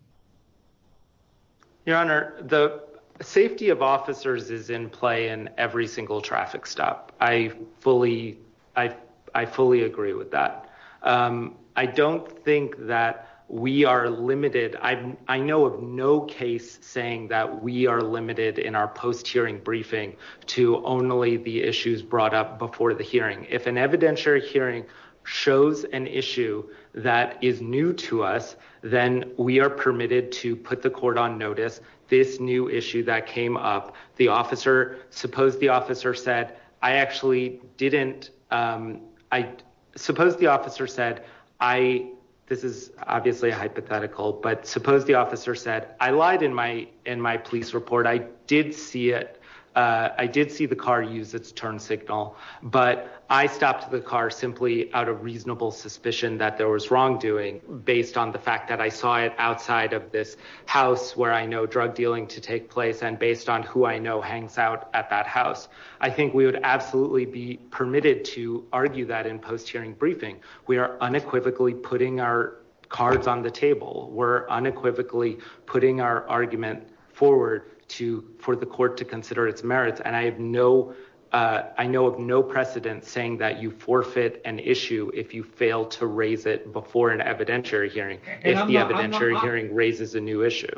Your honor, the safety of officers is in play in every single traffic stop. I fully, I, I fully agree with that. Um, I don't think that we are limited. I, I know of no case saying that we are limited in our post hearing briefing to only the issues brought up before the hearing. If an evidentiary hearing shows an issue that is new to us, then we are permitted to put the court on notice. This new issue that came up, the officer, suppose the officer said, I actually didn't, um, I suppose the officer said, I, this is obviously a hypothetical, but suppose the officer said, I lied in my, in my police report. I did see it. Uh, I did see the car use its turn signal, but I stopped the car simply out of reasonable suspicion that there was wrongdoing based on the fact that I saw it outside of this house where I know drug dealing to take place. And based on who I know hangs out at that house, I think we would absolutely be permitted to argue that in post hearing briefing, we are unequivocally putting our cards on the table. We're unequivocally putting our argument forward to, for the court to consider its merits. And I have no, uh, I know of no precedent saying that you forfeit an issue. If you fail to raise it before an evidentiary hearing, if the evidentiary hearing raises a new issue.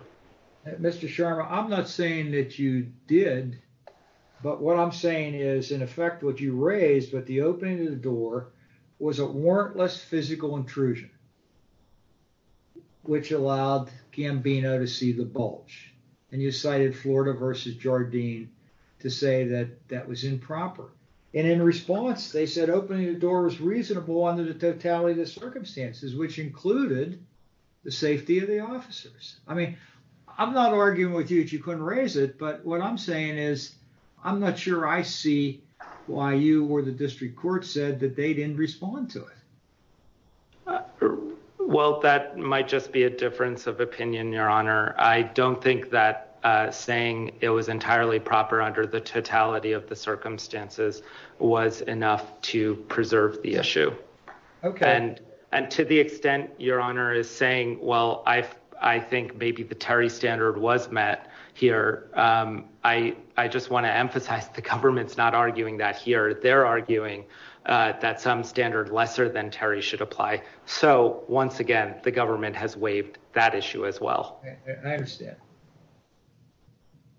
Mr. Sharma, I'm not saying that you did, but what I'm saying is in effect, what you raised, but the opening of the door was a warrantless physical intrusion, which allowed Gambino to see the bulge. And you cited Florida versus Jardine to say that that was improper. And in response, they said opening the door was reasonable under the totality of the circumstances, which included the safety of the officers. I mean, I'm not arguing with you that you couldn't raise it, but what I'm saying is I'm not sure I see why you or the district court said that they didn't respond to it. Well, that might just be a difference of opinion, your honor. I don't think that, uh, saying it was entirely proper under the totality of the circumstances was enough to preserve the your honor is saying, well, I, I think maybe the Terry standard was met here. Um, I, I just want to emphasize the government's not arguing that here they're arguing, uh, that some standard lesser than Terry should apply. So once again, the government has waived that issue as well.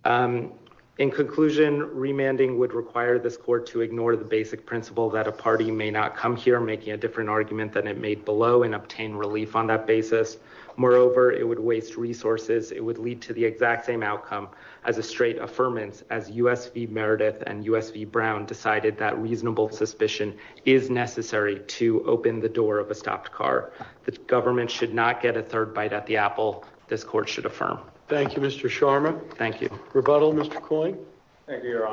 Um, in conclusion, remanding would require this court to ignore the basic principle that a party may not come here and making a different argument than it made below and obtain relief on that basis. Moreover, it would waste resources. It would lead to the exact same outcome as a straight affirmance as U S V Meredith and U S V Brown decided that reasonable suspicion is necessary to open the door of a stopped car. The government should not get a third bite at the apple. This court should affirm. Thank you, Mr. Sharma. Thank you. Rebuttal. Mr. Coyne. Thank you, your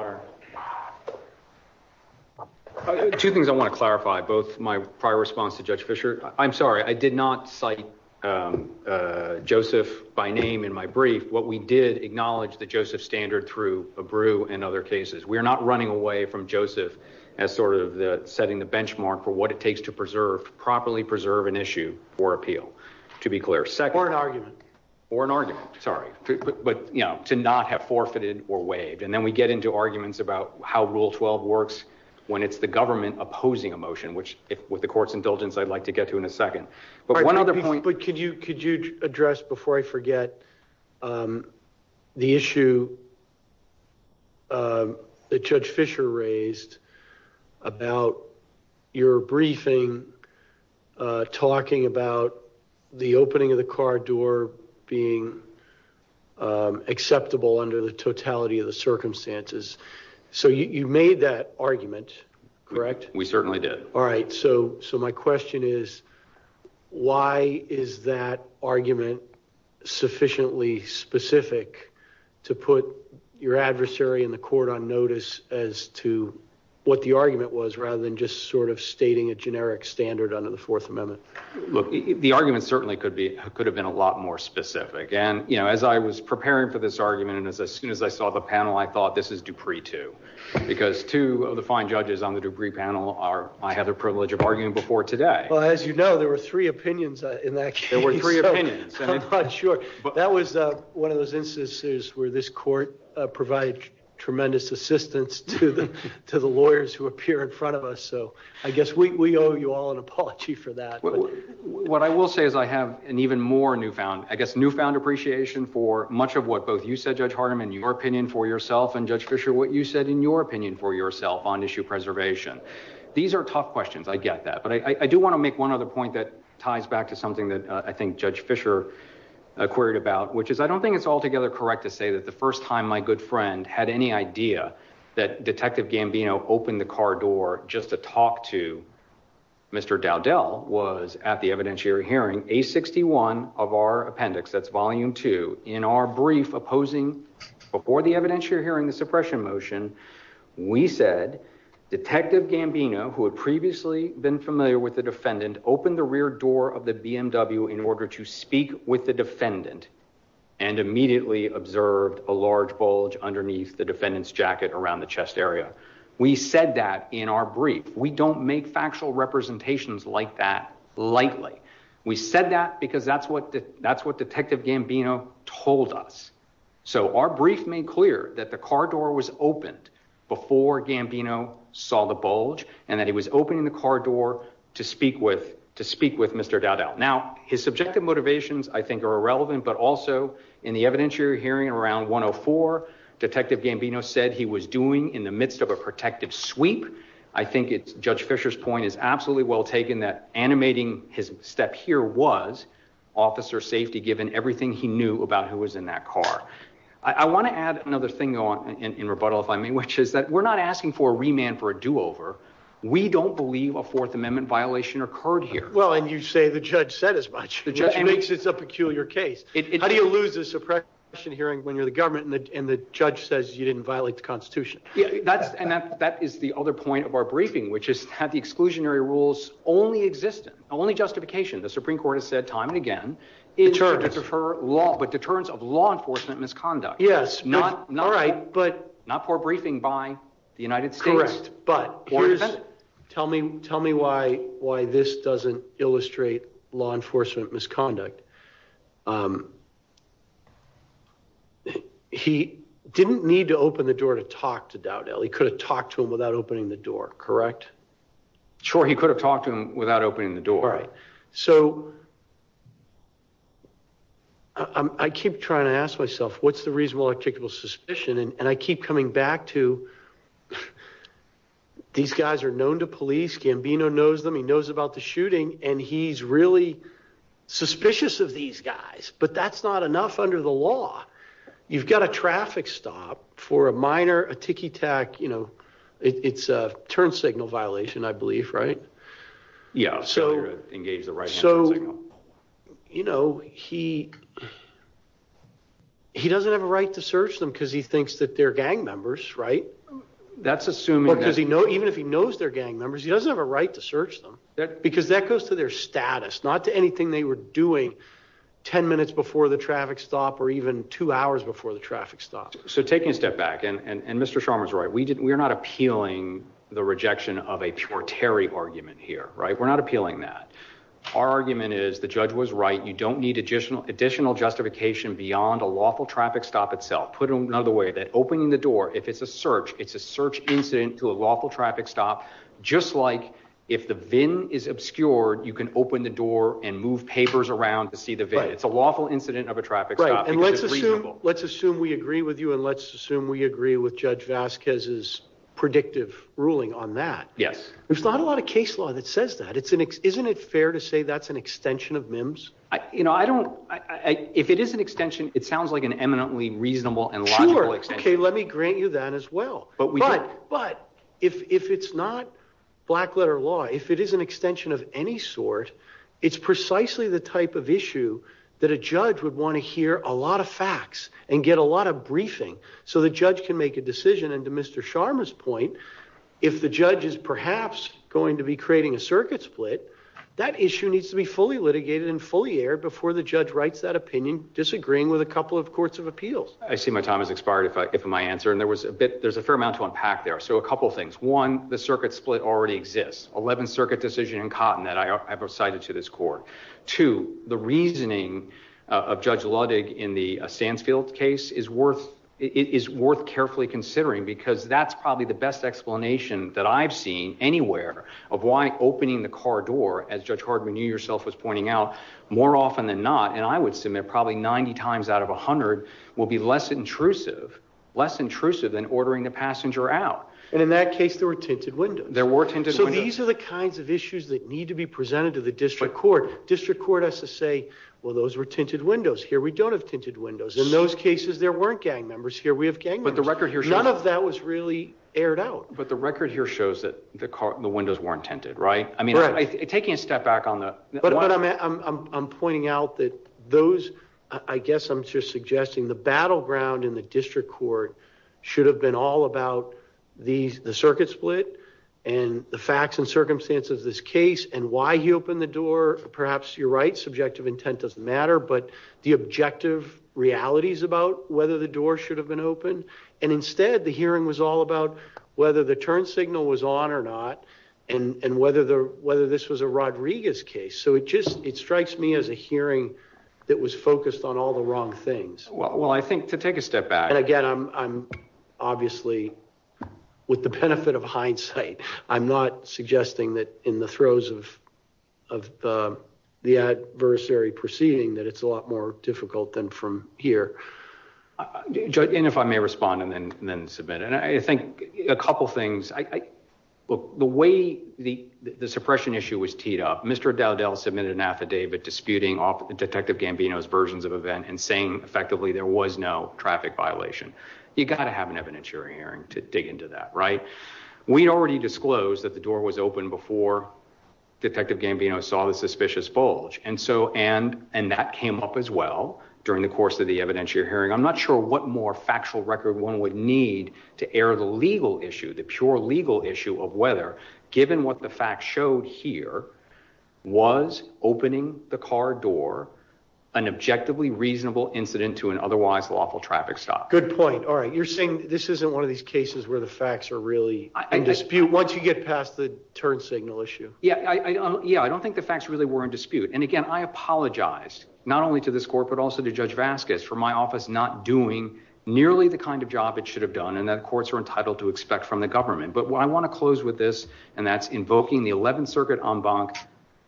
both my prior response to judge Fisher. I'm sorry. I did not cite, um, uh, Joseph by name in my brief, what we did acknowledge that Joseph standard through a brew and other cases, we are not running away from Joseph as sort of the setting the benchmark for what it takes to preserve properly, preserve an issue or appeal to be clear, or an argument or an argument, sorry, but you know, to not have forfeited or waived. And then we get into arguments about how rule 12 works when it's the government opposing emotion, which with the court's indulgence, I'd like to get to in a second, but one other point, but could you, could you address before I forget, um, the issue, um, that judge Fisher raised about your briefing, uh, talking about the opening of the car door being, um, acceptable under the totality of the circumstances. So you, you made that argument, correct? We certainly did. All right. So, so my question is, why is that argument sufficiently specific to put your adversary in the court on notice as to what the argument was rather than just sort of stating a generic standard under the fourth amendment? Look, the argument certainly could be, could have been a lot more specific. And, you know, as I was preparing for this argument, and as soon as I saw the panel, I thought this is Dupree too, because two of the fine judges on the Dupree panel are, I had the privilege of arguing before today. Well, as you know, there were three opinions in that case. There were three opinions. I'm not sure, but that was one of those instances where this court provided tremendous assistance to the, to the lawyers who appear in front of us. So I guess we owe you all an apology for that. What I will say is I have an even more newfound, I guess, newfound appreciation for much of what both you said, Judge Hardiman, your opinion for yourself and Judge Fisher, what you said in your opinion for yourself on issue preservation. These are tough questions. I get that, but I do want to make one other point that ties back to something that I think Judge Fisher queried about, which is, I don't think it's altogether correct to say that the first time my good friend had any idea that Detective Gambino opened the car door just to talk to Mr. Dowdell was at the evidentiary hearing, A61 of our appendix, that's volume two, in our brief opposing before the evidentiary hearing, the suppression motion, we said Detective Gambino, who had previously been familiar with the defendant, opened the rear door of the BMW in order to speak with the defendant and immediately observed a large bulge underneath the defendant's jacket around the chest area. We said that in our brief, we don't make factual representations like that lightly. We said that because that's what Detective Gambino told us. So our brief made clear that the car door was opened before Gambino saw the bulge and that he was opening the car door to speak with Mr. Dowdell. Now, his subjective motivations I think are irrelevant, but also in the evidentiary hearing around 104, Detective Gambino said he was doing in the midst of a protective sweep. I think it's Judge Fisher's point is absolutely well taken that animating his step here was officer safety given everything he knew about who was in that car. I want to add another thing in rebuttal if I may, which is that we're not asking for a remand for a do-over. We don't believe a Fourth Amendment violation occurred here. Well, and you say the judge said as much. The judge makes it's a peculiar case. How do you lose a suppression hearing when you're and the judge says you didn't violate the constitution? Yeah, that's and that is the other point of our briefing, which is that the exclusionary rules only exist, only justification. The Supreme Court has said time and again, it's hard to defer law, but deterrence of law enforcement misconduct. Yes, not not right, but not for briefing by the United States. But tell me tell me why why this doesn't illustrate law enforcement misconduct. He didn't need to open the door to talk to Dowdell. He could have talked to him without opening the door, correct? Sure. He could have talked to him without opening the door. All right. So I keep trying to ask myself, what's the reasonable articulable suspicion? And I keep coming back to. These guys are known to police, Gambino knows them, he knows about the shooting, and he's really suspicious of these guys, but that's not enough under the law. You've got a traffic stop for a minor, a tiki tac, you know, it's a turn signal violation, I believe, right? Yeah. So engage the right. So, you know, he he doesn't have a right to search them because he thinks that they're gang members, right? That's assuming because he knows even if he knows they're gang members, he doesn't have a right to search them because that goes to their status, not to anything they were doing 10 minutes before the traffic stop or even two hours before the traffic stop. So taking a step back and Mr. Scharmer's right, we're not appealing the rejection of a pure Terry argument here, right? We're not appealing that. Our argument is the judge was right. You don't need additional justification beyond a lawful traffic stop itself. Put another way that opening the door, if it's a search, it's a search incident to a lawful traffic stop. Just like if the VIN is obscured, you can open the door and move papers around to see the VIN. It's a lawful incident of a traffic stop. Right. And let's assume we agree with you and let's assume we agree with Judge Vasquez's predictive ruling on that. Yes. There's not a lot of case law that says that. Isn't it fair to say that's an extension of MIMS? You know, if it is an extension, it sounds like an eminently reasonable and logical extension. Sure. Okay. Let me grant you that as well. But if it's not black letter law, if it is an extension of any sort, it's precisely the type of issue that a judge would want to hear a lot of facts and get a lot of briefing so the judge can make a decision. And to Mr. Scharmer's point, if the judge is perhaps going to be creating a circuit split, that issue needs to be fully litigated and fully aired before the judge writes that opinion, disagreeing with a couple of courts of appeals. I see my time has expired if I get my answer and there was a bit, there's a fair amount to unpack there. So a couple of things. One, the circuit split already exists. 11th circuit decision in Cotton that I have recited to this court. Two, the reasoning of Judge Ludwig in the Sansfield case is worth carefully considering because that's probably the best explanation that I've seen anywhere of why opening the car door as Judge Hardman, you yourself was pointing out more often than not. And I would submit probably 90 times out of a hundred will be less intrusive, less intrusive than ordering the passenger out. And in that case, there were tinted windows. There were tinted. So these are the kinds of issues that need to be presented to the district court. District court has to say, well, those were tinted windows here. We don't have tinted windows in those cases. There weren't gang members here. We have gang, but the record here, none of that was really aired out, but the record here shows that the car, the windows weren't tinted, right? I mean, taking a step back on that, but I'm pointing out that those, I guess I'm just suggesting the battleground in the district court should have been all about these, the circuit split and the facts and circumstances of this case and why he opened the door. Perhaps you're right. Subjective intent doesn't matter, but the objective realities about whether the door should have been opened. And instead the hearing was all about whether the turn signal was on or not and whether the, whether this was a Rodriguez case. So it just, it strikes me as a hearing that was focused on all the wrong things. Well, I think to take a step back and again, I'm, I'm obviously with the benefit of hindsight, I'm not suggesting that in the throes of, of the adversary proceeding, that it's a lot more difficult than from here. Uh, and if I may respond and then, and then submit, and I think a couple of things, I, look, the way the, the suppression issue was teed up, Mr. Dowdell submitted an affidavit disputing off the detective Gambino's versions of event and saying effectively there was no traffic violation. You got to have an evidentiary hearing to dig into that, right? We'd already disclosed that the door was open before detective Gambino saw the suspicious bulge. And so, and, and that came up as well during the course of the evidentiary hearing. I'm not sure what more factual record one would need to air the legal issue, the pure legal issue of whether given what the facts showed here was opening the car door, an objectively reasonable incident to an otherwise lawful traffic stop. Good point. All right. You're saying this isn't one of these cases where the facts are really in dispute once you get past the turn signal issue. Yeah. Yeah. I don't think the not only to this court, but also to judge Vasquez for my office, not doing nearly the kind of job it should have done. And that courts are entitled to expect from the government. But what I want to close with this, and that's invoking the 11th circuit en banc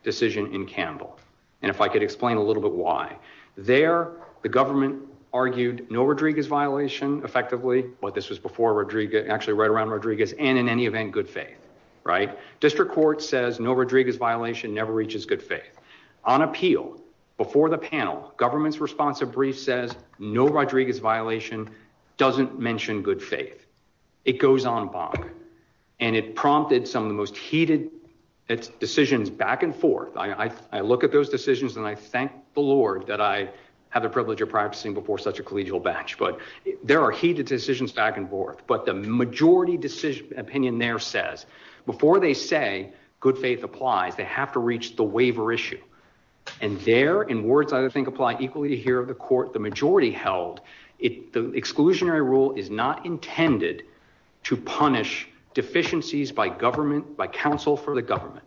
decision in Campbell. And if I could explain a little bit why there, the government argued no Rodriguez violation effectively, but this was before Rodriguez actually right around Rodriguez and in any event, good faith, right? District court says no Rodriguez violation never reaches good faith on appeal before the panel. Government's responsive brief says no Rodriguez violation doesn't mention good faith. It goes on and it prompted some of the most heated decisions back and forth. I look at those decisions and I thank the Lord that I have the privilege of practicing before such a collegial batch. But there are heated decisions back and forth. But the majority decision opinion there says before they say good faith applies, they have to reach the waiver issue. And there in words, I think, apply equally here of the court. The majority held it. The exclusionary rule is not intended to punish deficiencies by government, by counsel for the government,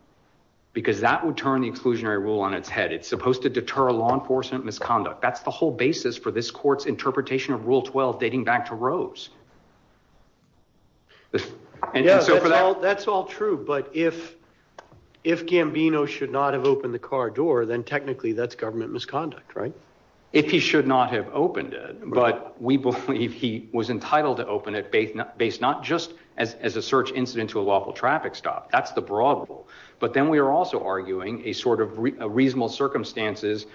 because that would turn the exclusionary rule on its head. It's supposed to deter law enforcement misconduct. That's the whole basis for this court's interpretation of Rule 12, dating back to Rose. And so for that, that's all true. But if, if Gambino should not have opened the car door, then technically that's government misconduct, right? If he should not have opened it, but we believe he was entitled to open it based not just as a search incident to a lawful traffic stop. That's the broad rule. But then we are also arguing a sort of reasonable circumstances.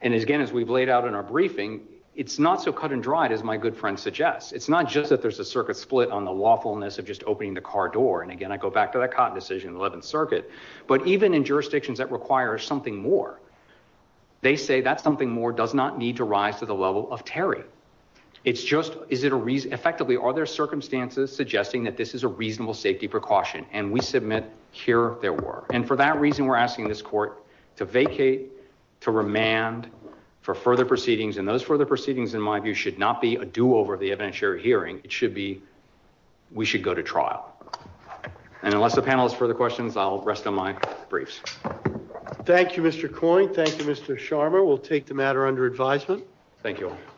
And as again, as we've laid out in our briefing, it's not so cut and dried as my good friend suggests. It's not just that there's a circuit split on the lawfulness of just opening the car door. And again, I go back to that cotton decision in the 11th circuit, but even in jurisdictions that require something more, they say that something more does not need to rise to the level of Terry. It's just, is it a reason effectively, are there circumstances suggesting that this is a reasonable safety precaution and we submit here there were. And for that reason, we're asking this court to vacate, to remand for further proceedings. And those further proceedings in my view should not be a do-over of the evidentiary hearing. It should be, we should go to trial. And unless the panel has further questions, I'll rest on my briefs. Thank you, Mr. Coyne. Thank you, Mr. Sharma. We'll take the matter under advisement. Thank you all.